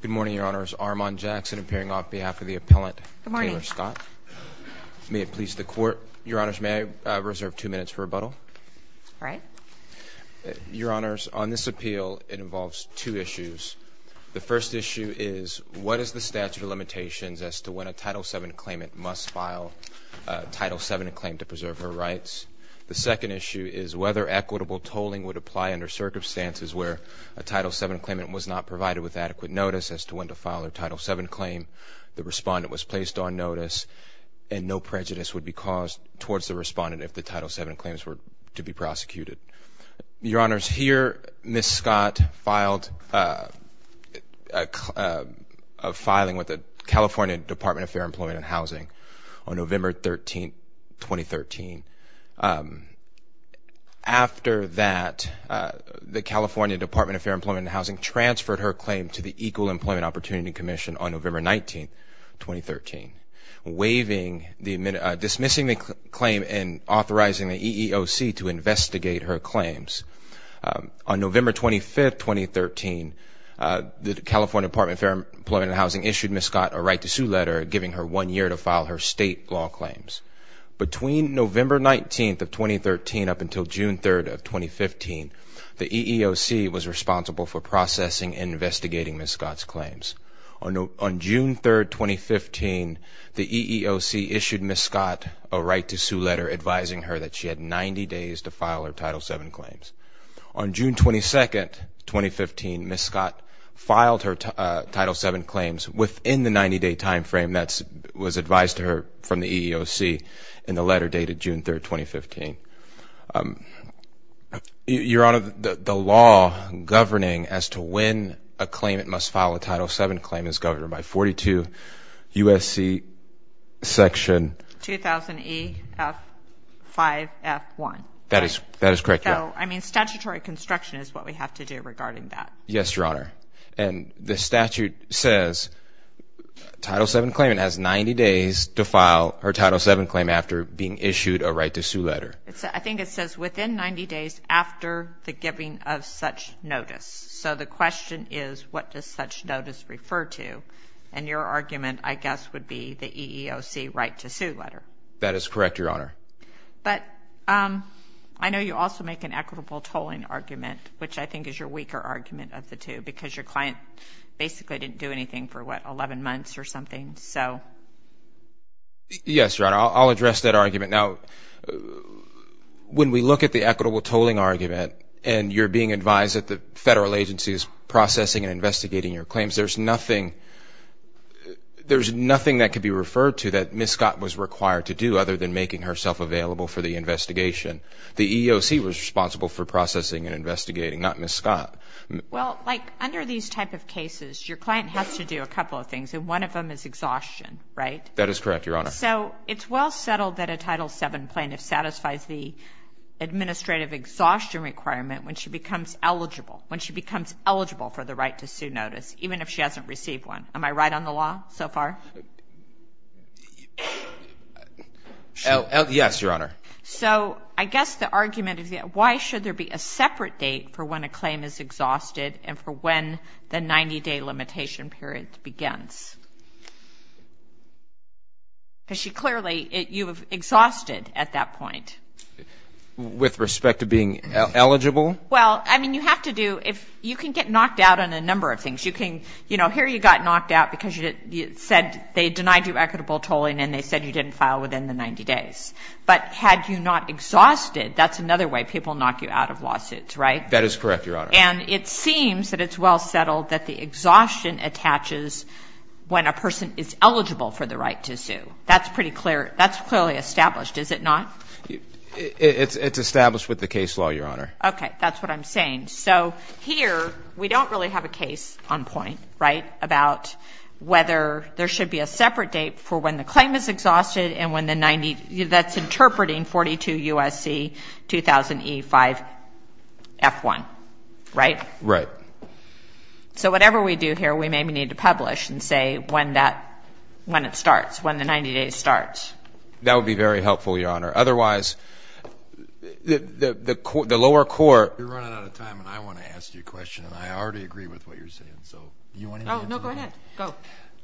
Good morning, Your Honors. Armon Jackson appearing on behalf of the appellant Taylor Scott. May it please the Court, Your Honors, may I reserve two minutes for rebuttal? All right. Your Honors, on this appeal, it involves two issues. The first issue is what is the statute of limitations as to when a Title VII claimant must file a Title VII claim to preserve her rights? The second issue is whether equitable tolling would apply under circumstances where a Title VII claimant was not provided with adequate notice as to when to file a Title VII claim, the respondent was placed on notice, and no prejudice would be caused towards the respondent if the Title VII claims were to be prosecuted. Your Honors, here Ms. Scott filed a filing with the California Department of Fair Employment and Housing on November 13, 2013. After that, the California Department of Fair Employment and Housing transferred her claim to the Equal Employment Opportunity Commission on November 19, 2013, dismissing the claim and authorizing the EEOC to investigate her claims. On November 25, 2013, the California Department of Fair Employment and Housing issued Ms. Scott a right to sue letter giving her one year to file her state law claims. Between November 19, 2013 up until June 3, 2015, the EEOC was responsible for processing and investigating Ms. Scott's claims. On June 3, 2015, the EEOC issued Ms. Scott a right to sue letter advising her that she had 90 days to file her Title VII claims. On June 22, 2015, Ms. Scott filed her Title VII claims within the 90-day timeframe that was advised to her from the EEOC in the letter dated June 3, 2015. Your Honor, the law governing as to when a claimant must file a Title VII claim is governed by 42 U.S.C. section... 2000 E.F. 5.F. 1. That is correct, yes. I mean statutory construction is what we have to do regarding that. Yes, Your Honor. And the statute says Title VII claimant has 90 days to file her Title VII claim after being issued a right to sue letter. I think it says within 90 days after the giving of such notice. So the question is what does such notice refer to? And your argument, I guess, would be the EEOC right to sue letter. That is correct, Your Honor. But I know you also make an equitable tolling argument, which I think is your weaker argument of the two, because your client basically didn't do anything for, what, 11 months or something. Yes, Your Honor. I'll address that argument. Now, when we look at the equitable tolling argument and you're being advised that the federal agency is processing and investigating your claims, there's nothing that could be referred to that Ms. Scott was required to do other than making herself available for the investigation. The EEOC was responsible for processing and investigating, not Ms. Scott. Well, like under these type of cases, your client has to do a couple of things, and one of them is exhaustion, right? That is correct, Your Honor. So it's well settled that a Title VII plaintiff satisfies the administrative exhaustion requirement when she becomes eligible, when she becomes eligible for the right to sue notice, even if she hasn't received one. Am I right on the law so far? Yes, Your Honor. So I guess the argument is why should there be a separate date for when a claim is exhausted and for when the 90-day limitation period begins? Because she clearly, you have exhausted at that point. With respect to being eligible? Well, I mean, you have to do, you can get knocked out on a number of things. You can, you know, here you got knocked out because you said they denied you equitable tolling and they said you didn't file within the 90 days. But had you not exhausted, that's another way people knock you out of lawsuits, right? That is correct, Your Honor. And it seems that it's well settled that the exhaustion attaches when a person is eligible for the right to sue. That's pretty clear. That's clearly established, is it not? It's established with the case law, Your Honor. Okay. That's what I'm saying. So here, we don't really have a case on point, right, about whether there should be a separate date for when the claim is exhausted and when the 90, that's interpreting 42 U.S.C. 2000 E5 F1, right? Right. So whatever we do here, we maybe need to publish and say when that, when it starts, when the 90-day starts. That would be very helpful, Your Honor. Otherwise, the lower court. You're running out of time, and I want to ask you a question, and I already agree with what you're saying. So do you want to answer that? No, go ahead. Go.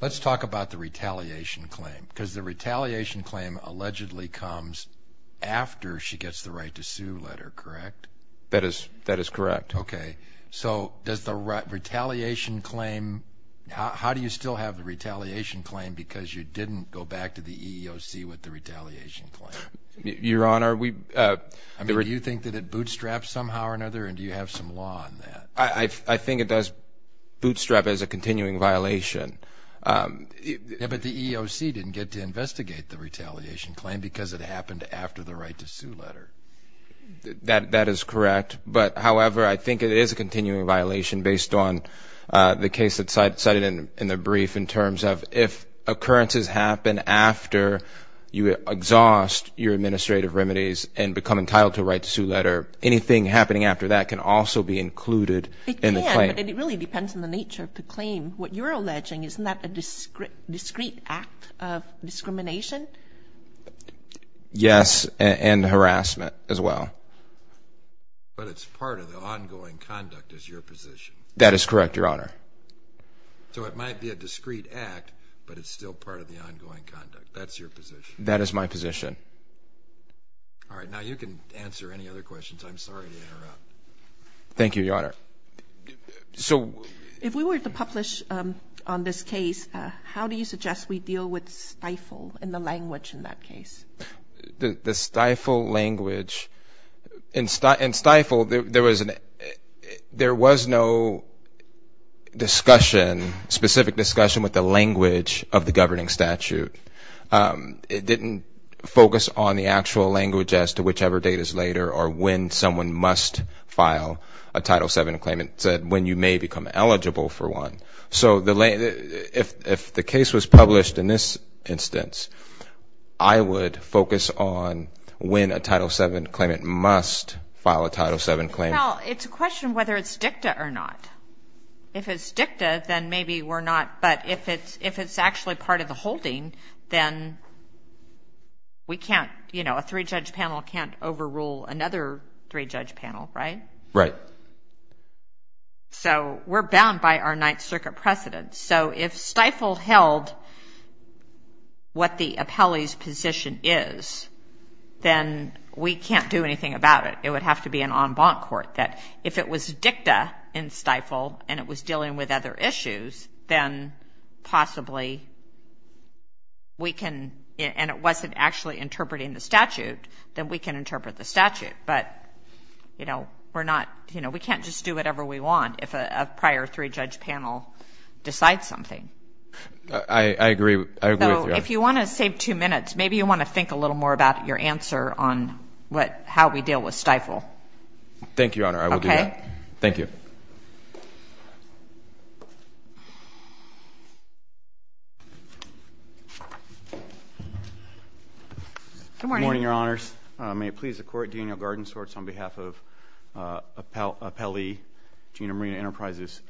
Let's talk about the retaliation claim because the retaliation claim allegedly comes after she gets the right to sue letter, correct? That is correct. Okay. So does the retaliation claim, how do you still have the retaliation claim because you didn't go back to the EEOC with the retaliation claim? Your Honor, we. I mean, do you think that it bootstraps somehow or another, and do you have some law on that? I think it does bootstrap as a continuing violation. But the EEOC didn't get to investigate the retaliation claim because it happened after the right to sue letter. That is correct. But, however, I think it is a continuing violation based on the case that's cited in the brief in terms of if occurrences happen after you exhaust your administrative remedies and become entitled to a right to sue letter, anything happening after that can also be included in the claim. It can, but it really depends on the nature of the claim. What you're alleging, isn't that a discrete act of discrimination? Yes, and harassment as well. But it's part of the ongoing conduct as your position. That is correct, Your Honor. So it might be a discrete act, but it's still part of the ongoing conduct. That's your position. That is my position. All right, now you can answer any other questions. I'm sorry to interrupt. Thank you, Your Honor. If we were to publish on this case, how do you suggest we deal with stifle in the language in that case? The stifle language. In stifle, there was no discussion, specific discussion with the language of the governing statute. It didn't focus on the actual language as to whichever date is later or when someone must file a Title VII claim. It said when you may become eligible for one. So if the case was published in this instance, I would focus on when a Title VII claimant must file a Title VII claim. Well, it's a question of whether it's dicta or not. If it's dicta, then maybe we're not, but if it's actually part of the holding, then we can't, you know, a three-judge panel can't overrule another three-judge panel, right? Right. So we're bound by our Ninth Circuit precedent. So if stifle held what the appellee's position is, then we can't do anything about it. It would have to be an en banc court that if it was dicta in stifle and it was dealing with other issues, then possibly we can, and it wasn't actually interpreting the statute, then we can interpret the statute. But, you know, we're not, you know, we can't just do whatever we want if a prior three-judge panel decides something. I agree. So if you want to save two minutes, maybe you want to think a little more about your answer on how we deal with stifle. Thank you, Your Honor. I will do that. Thank you. Good morning. Good morning, Your Honors. May it please the Court, Daniel Gardensworth on behalf of appellee Gina Marina Enterprises.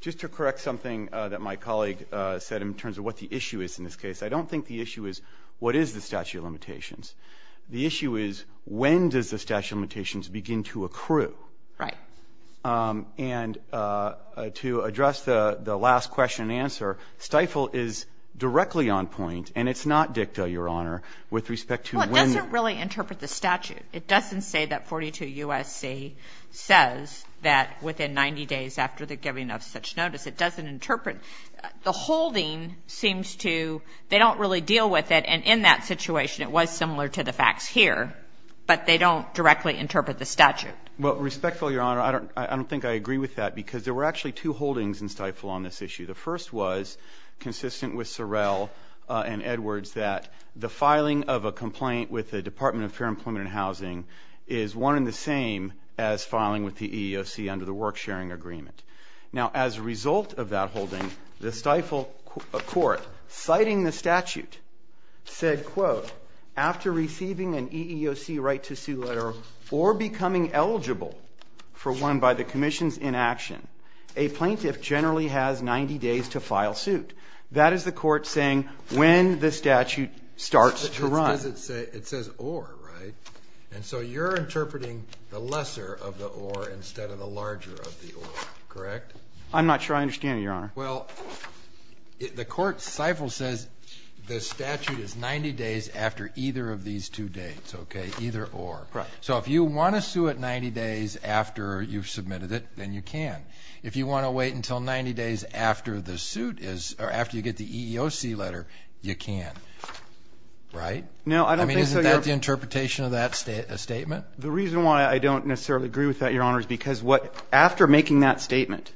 Just to correct something that my colleague said in terms of what the issue is in this case, I don't think the issue is what is the statute of limitations. The issue is when does the statute of limitations begin to accrue. Right. And to address the last question and answer, stifle is directly on point, and it's not dicta, Your Honor, with respect to when. Well, it doesn't really interpret the statute. It doesn't say that 42 U.S.C. says that within 90 days after the giving of such notice. It doesn't interpret. The holding seems to, they don't really deal with it, and in that situation it was similar to the facts here, but they don't directly interpret the statute. Well, respectfully, Your Honor, I don't think I agree with that because there were actually two holdings in stifle on this issue. The first was consistent with Sorrell and Edwards that the filing of a complaint with the Department of Fair Employment and Housing is one in the same as filing with the EEOC under the work sharing agreement. Now, as a result of that holding, the stifle court, citing the statute, said, quote, after receiving an EEOC right to sue letter or becoming eligible for one by the commission's inaction, a plaintiff generally has 90 days to file suit. That is the court saying when the statute starts to run. It says or, right? And so you're interpreting the lesser of the or instead of the larger of the or, correct? I'm not sure I understand it, Your Honor. Well, the court stifle says the statute is 90 days after either of these two dates, okay, either or. Right. So if you want to sue it 90 days after you've submitted it, then you can. If you want to wait until 90 days after the suit is or after you get the EEOC letter, you can. Right? No, I don't think so, Your Honor. I mean, isn't that the interpretation of that statement? The reason why I don't necessarily agree with that, Your Honor, is because what after making that statement,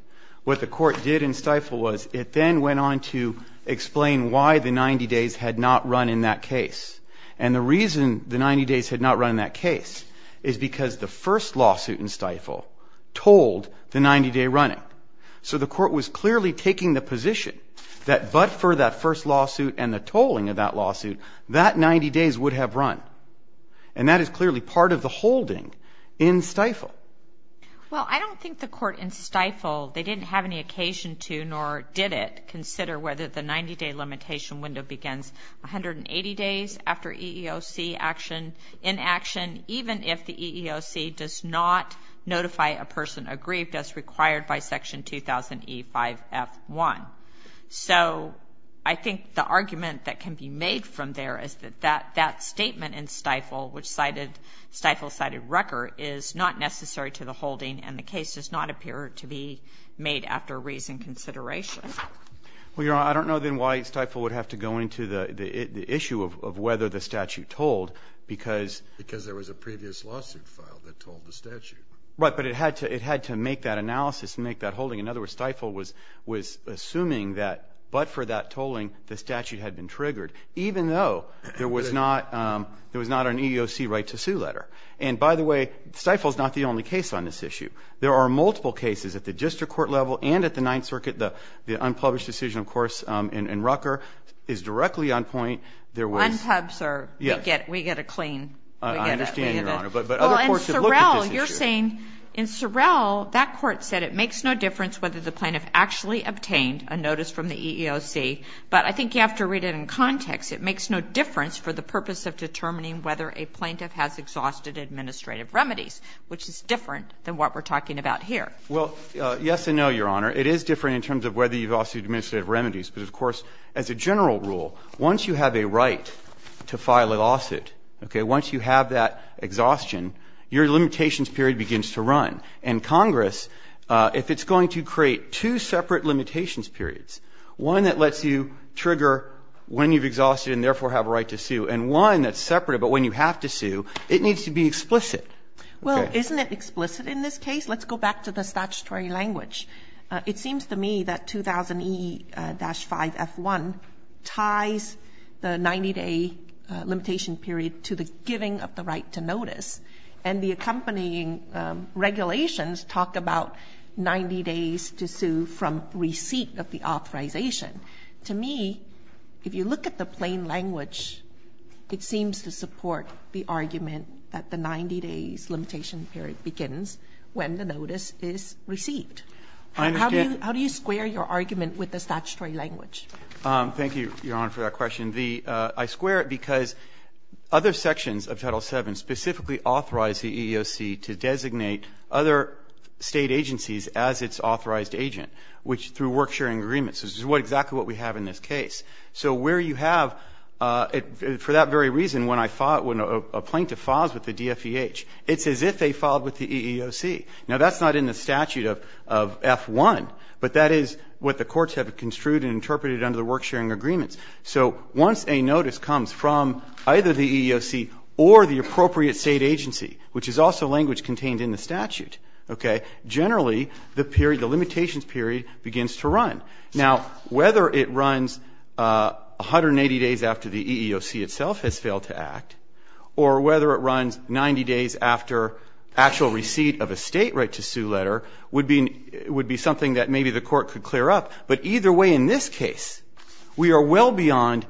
what the court did in stifle was it then went on to explain why the 90 days had not run in that case. And the reason the 90 days had not run in that case is because the first lawsuit in stifle told the 90-day running. So the court was clearly taking the position that but for that first lawsuit and the tolling of that lawsuit, that 90 days would have run. And that is clearly part of the holding in stifle. Well, I don't think the court in stifle, they didn't have any occasion to, nor did it, consider whether the 90-day limitation window begins 180 days after EEOC action in action, even if the EEOC does not notify a person aggrieved as required by Section 2000E5F1. So I think the argument that can be made from there is that that statement in stifle, which stifle cited Rucker, is not necessary to the holding and the case does not appear to be made after reasoned consideration. Well, Your Honor, I don't know then why stifle would have to go into the issue of whether the statute told because... Because there was a previous lawsuit filed that told the statute. Right, but it had to make that analysis and make that holding. In other words, stifle was assuming that but for that tolling, the statute had been triggered, even though there was not an EEOC right to sue letter. And by the way, stifle is not the only case on this issue. There are multiple cases at the district court level and at the Ninth Circuit. The unpublished decision, of course, in Rucker is directly on point. Unpubbed, sir. Yes. We get a clean. I understand, Your Honor, but other courts should look at this issue. Well, in Sorrell, you're saying in Sorrell, that court said it makes no difference whether the plaintiff actually obtained a notice from the EEOC, but I think you have to read it in context. It makes no difference for the purpose of determining whether a plaintiff has exhausted administrative remedies, which is different than what we're talking about here. Well, yes and no, Your Honor. It is different in terms of whether you've exhausted administrative remedies. But, of course, as a general rule, once you have a right to file a lawsuit, okay, once you have that exhaustion, your limitations period begins to run. And Congress, if it's going to create two separate limitations periods, one that lets you trigger when you've exhausted and, therefore, have a right to sue, and one that's separate, but when you have to sue, it needs to be explicit. Well, isn't it explicit in this case? Let's go back to the statutory language. It seems to me that 2000E-5F1 ties the 90-day limitation period to the giving of the right to notice. And the accompanying regulations talk about 90 days to sue from receipt of the authorization. To me, if you look at the plain language, it seems to support the argument that the 90-days limitation period begins when the notice is received. I understand. How do you square your argument with the statutory language? Thank you, Your Honor, for that question. I square it because other sections of Title VII specifically authorize the EEOC to designate other State agencies as its authorized agent, which through work-sharing agreements, which is exactly what we have in this case. So where you have, for that very reason, when a plaintiff files with the DFEH, it's as if they filed with the EEOC. Now, that's not in the statute of F-1, but that is what the courts have construed and interpreted under the work-sharing agreements. So once a notice comes from either the EEOC or the appropriate State agency, which is also language contained in the statute, okay, generally, the limitations period begins to run. Now, whether it runs 180 days after the EEOC itself has failed to act or whether it runs 90 days after actual receipt of a State right to sue letter would be something that maybe the Court could clear up. But either way, in this case, we are well beyond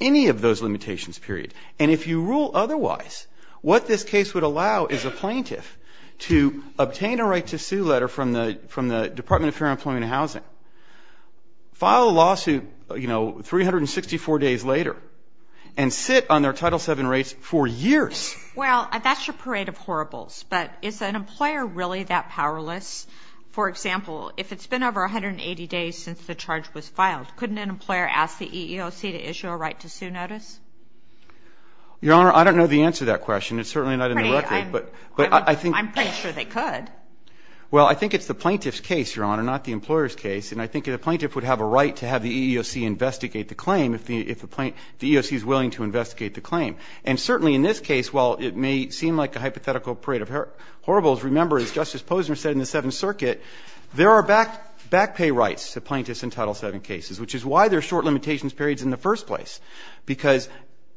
any of those limitations period. And if you rule otherwise, what this case would allow is a plaintiff to obtain a right to sue letter from the Department of Fair Employment and Housing, file a lawsuit, you know, 364 days later, and sit on their Title VII rates for years. Well, that's your parade of horribles. But is an employer really that powerless? For example, if it's been over 180 days since the charge was filed, couldn't an employer ask the EEOC to issue a right to sue notice? Your Honor, I don't know the answer to that question. It's certainly not in the record. But I think the plaintiff's case, Your Honor, not the employer's case, and I think the plaintiff would have a right to have the EEOC investigate the claim if the EEOC is willing to investigate the claim. And certainly in this case, while it may seem like a hypothetical parade of horribles, remember, as Justice Posner said in the Seventh Circuit, there are back pay rights to plaintiffs in Title VII cases, which is why there are short limitations periods in the first place. Because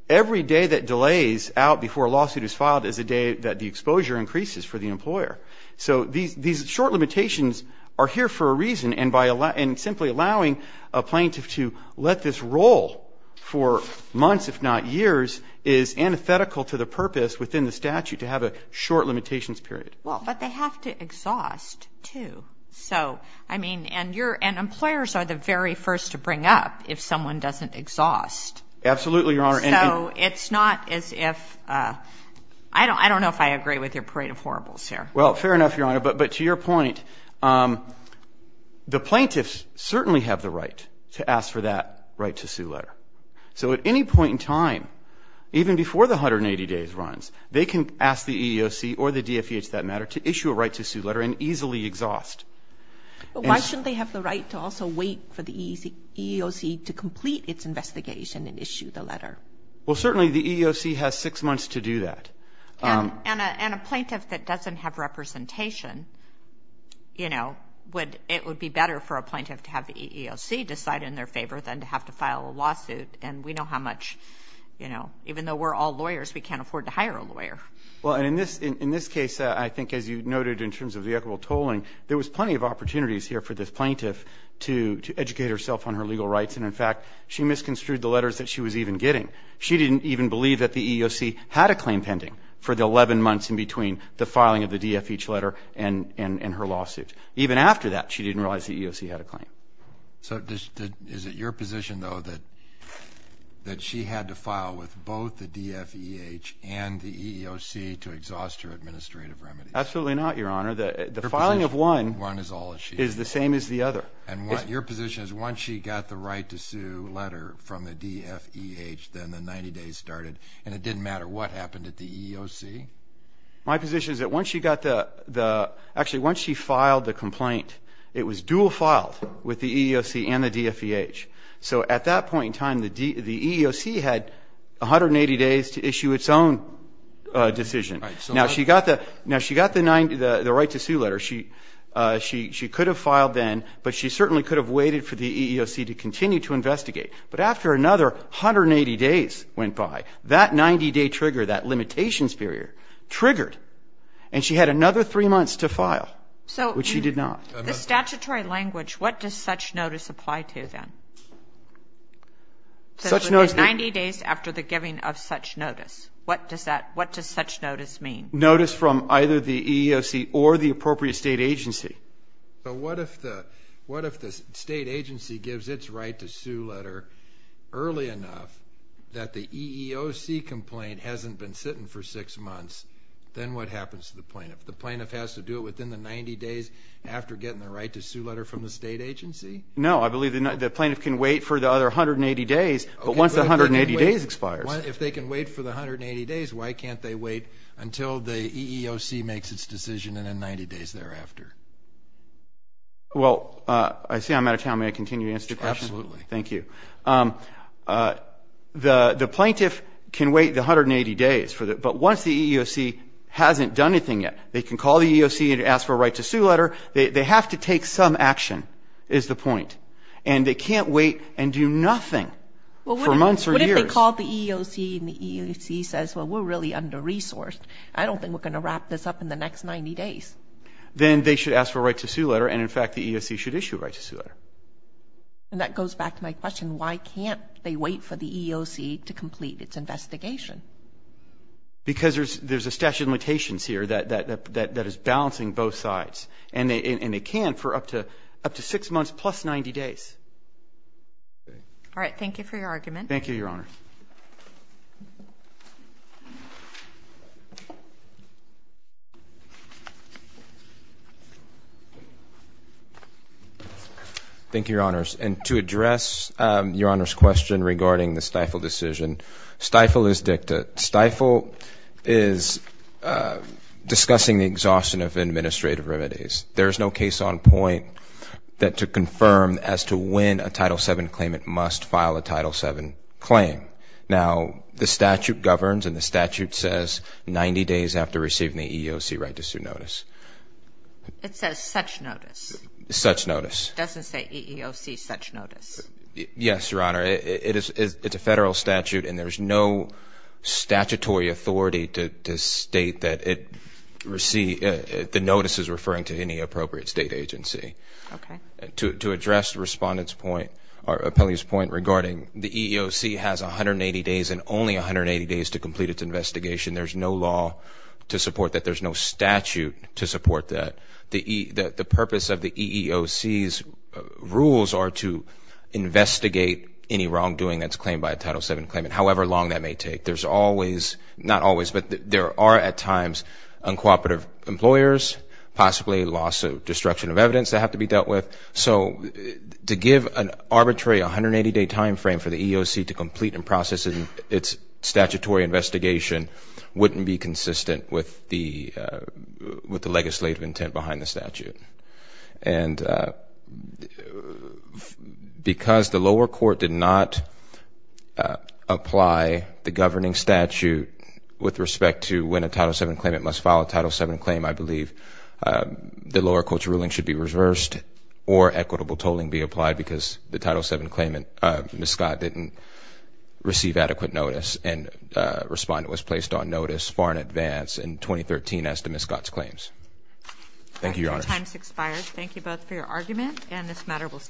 every day that delays out before a lawsuit is filed is a day that the exposure increases for the employer. So these short limitations are here for a reason, and simply allowing a plaintiff to let this roll for months, if not years, is antithetical to the purpose within the statute to have a short limitations period. Well, but they have to exhaust, too. So, I mean, and employers are the very first to bring up if someone doesn't exhaust. Absolutely, Your Honor. So it's not as if – I don't know if I agree with your parade of horribles here. Well, fair enough, Your Honor. But to your point, the plaintiffs certainly have the right to ask for that right to sue letter. So at any point in time, even before the 180 days runs, they can ask the EEOC or the CFEH, for that matter, to issue a right to sue letter and easily exhaust. But why shouldn't they have the right to also wait for the EEOC to complete its investigation and issue the letter? Well, certainly the EEOC has six months to do that. And a plaintiff that doesn't have representation, you know, would – it would be better for a plaintiff to have the EEOC decide in their favor than to have to file a lawsuit. And we know how much, you know, even though we're all lawyers, we can't afford to hire a lawyer. Well, and in this case, I think as you noted in terms of the equitable tolling, there was plenty of opportunities here for this plaintiff to educate herself on her legal rights. And in fact, she misconstrued the letters that she was even getting. She didn't even believe that the EEOC had a claim pending for the 11 months in between the filing of the DFEH letter and her lawsuit. Even after that, she didn't realize the EEOC had a claim. So is it your position, though, that she had to file with both the DFEH and the EEOC to exhaust her administrative remedies? Absolutely not, Your Honor. The filing of one is the same as the other. And your position is once she got the right to sue the letter from the DFEH, then the 90 days started, and it didn't matter what happened at the EEOC? My position is that once she got the – actually, once she filed the complaint, it was dual filed with the EEOC and the DFEH. So at that point in time, the EEOC had 180 days to issue its own decision. Right. Now, she got the right to sue letter. She could have filed then, but she certainly could have waited for the EEOC to continue to investigate. But after another 180 days went by, that 90-day trigger, that limitations period, triggered, and she had another three months to file, which she did not. The statutory language, what does such notice apply to then? 90 days after the giving of such notice. What does such notice mean? Notice from either the EEOC or the appropriate state agency. But what if the state agency gives its right to sue letter early enough that the EEOC complaint hasn't been sitting for six months, then what happens to the plaintiff? The plaintiff has to do it within the 90 days after getting the right to sue letter from the state agency? No, I believe the plaintiff can wait for the other 180 days, but once the 180 days expires. If they can wait for the 180 days, why can't they wait until the EEOC makes its decision and then 90 days thereafter? Well, I see I'm out of time. May I continue to answer your question? Absolutely. Thank you. The plaintiff can wait the 180 days, but once the EEOC hasn't done anything yet, they can call the EEOC and ask for a right to sue letter. They have to take some action is the point, and they can't wait and do nothing for months or years. What if they call the EEOC and the EEOC says, well, we're really under-resourced. I don't think we're going to wrap this up in the next 90 days. Then they should ask for a right to sue letter, and, in fact, the EEOC should issue a right to sue letter. And that goes back to my question. Why can't they wait for the EEOC to complete its investigation? Because there's a statute of limitations here that is balancing both sides, and they can for up to six months plus 90 days. All right. Thank you for your argument. Thank you, Your Honors. And to address Your Honor's question regarding the stifle decision, stifle is dicta. Stifle is discussing the exhaustion of administrative remedies. There is no case on point that to confirm as to when a Title VII claimant must file a Title VII claim. Now, the statute governs, and the statute says 90 days after receiving the EEOC right to sue notice. It says such notice. Such notice. It doesn't say EEOC such notice. Yes, Your Honor. It's a federal statute, and there's no statutory authority to state that the notice is referring to any appropriate state agency. Okay. To address the Respondent's point or Appellee's point regarding the EEOC has 180 days and only 180 days to complete its investigation, there's no law to support that. There's no statute to support that. The purpose of the EEOC's rules are to investigate any wrongdoing that's claimed by a Title VII claimant, however long that may take. There's always, not always, but there are at times uncooperative employers, possibly loss of destruction of evidence that have to be dealt with. So to give an arbitrary 180-day timeframe for the EEOC to complete its statutory investigation wouldn't be consistent with the legislative intent behind the statute. And because the lower court did not apply the governing statute with respect to when a Title VII claimant must file a Title VII claim, I believe the lower court's ruling should be reversed or equitable tolling be applied because the Title VII claimant, Ms. Scott, didn't receive adequate notice and Respondent was placed on notice far in advance in 2013 as to Ms. Scott's claims. Thank you, Your Honor. Your time has expired. Thank you both for your argument and this matter will stand adjourned.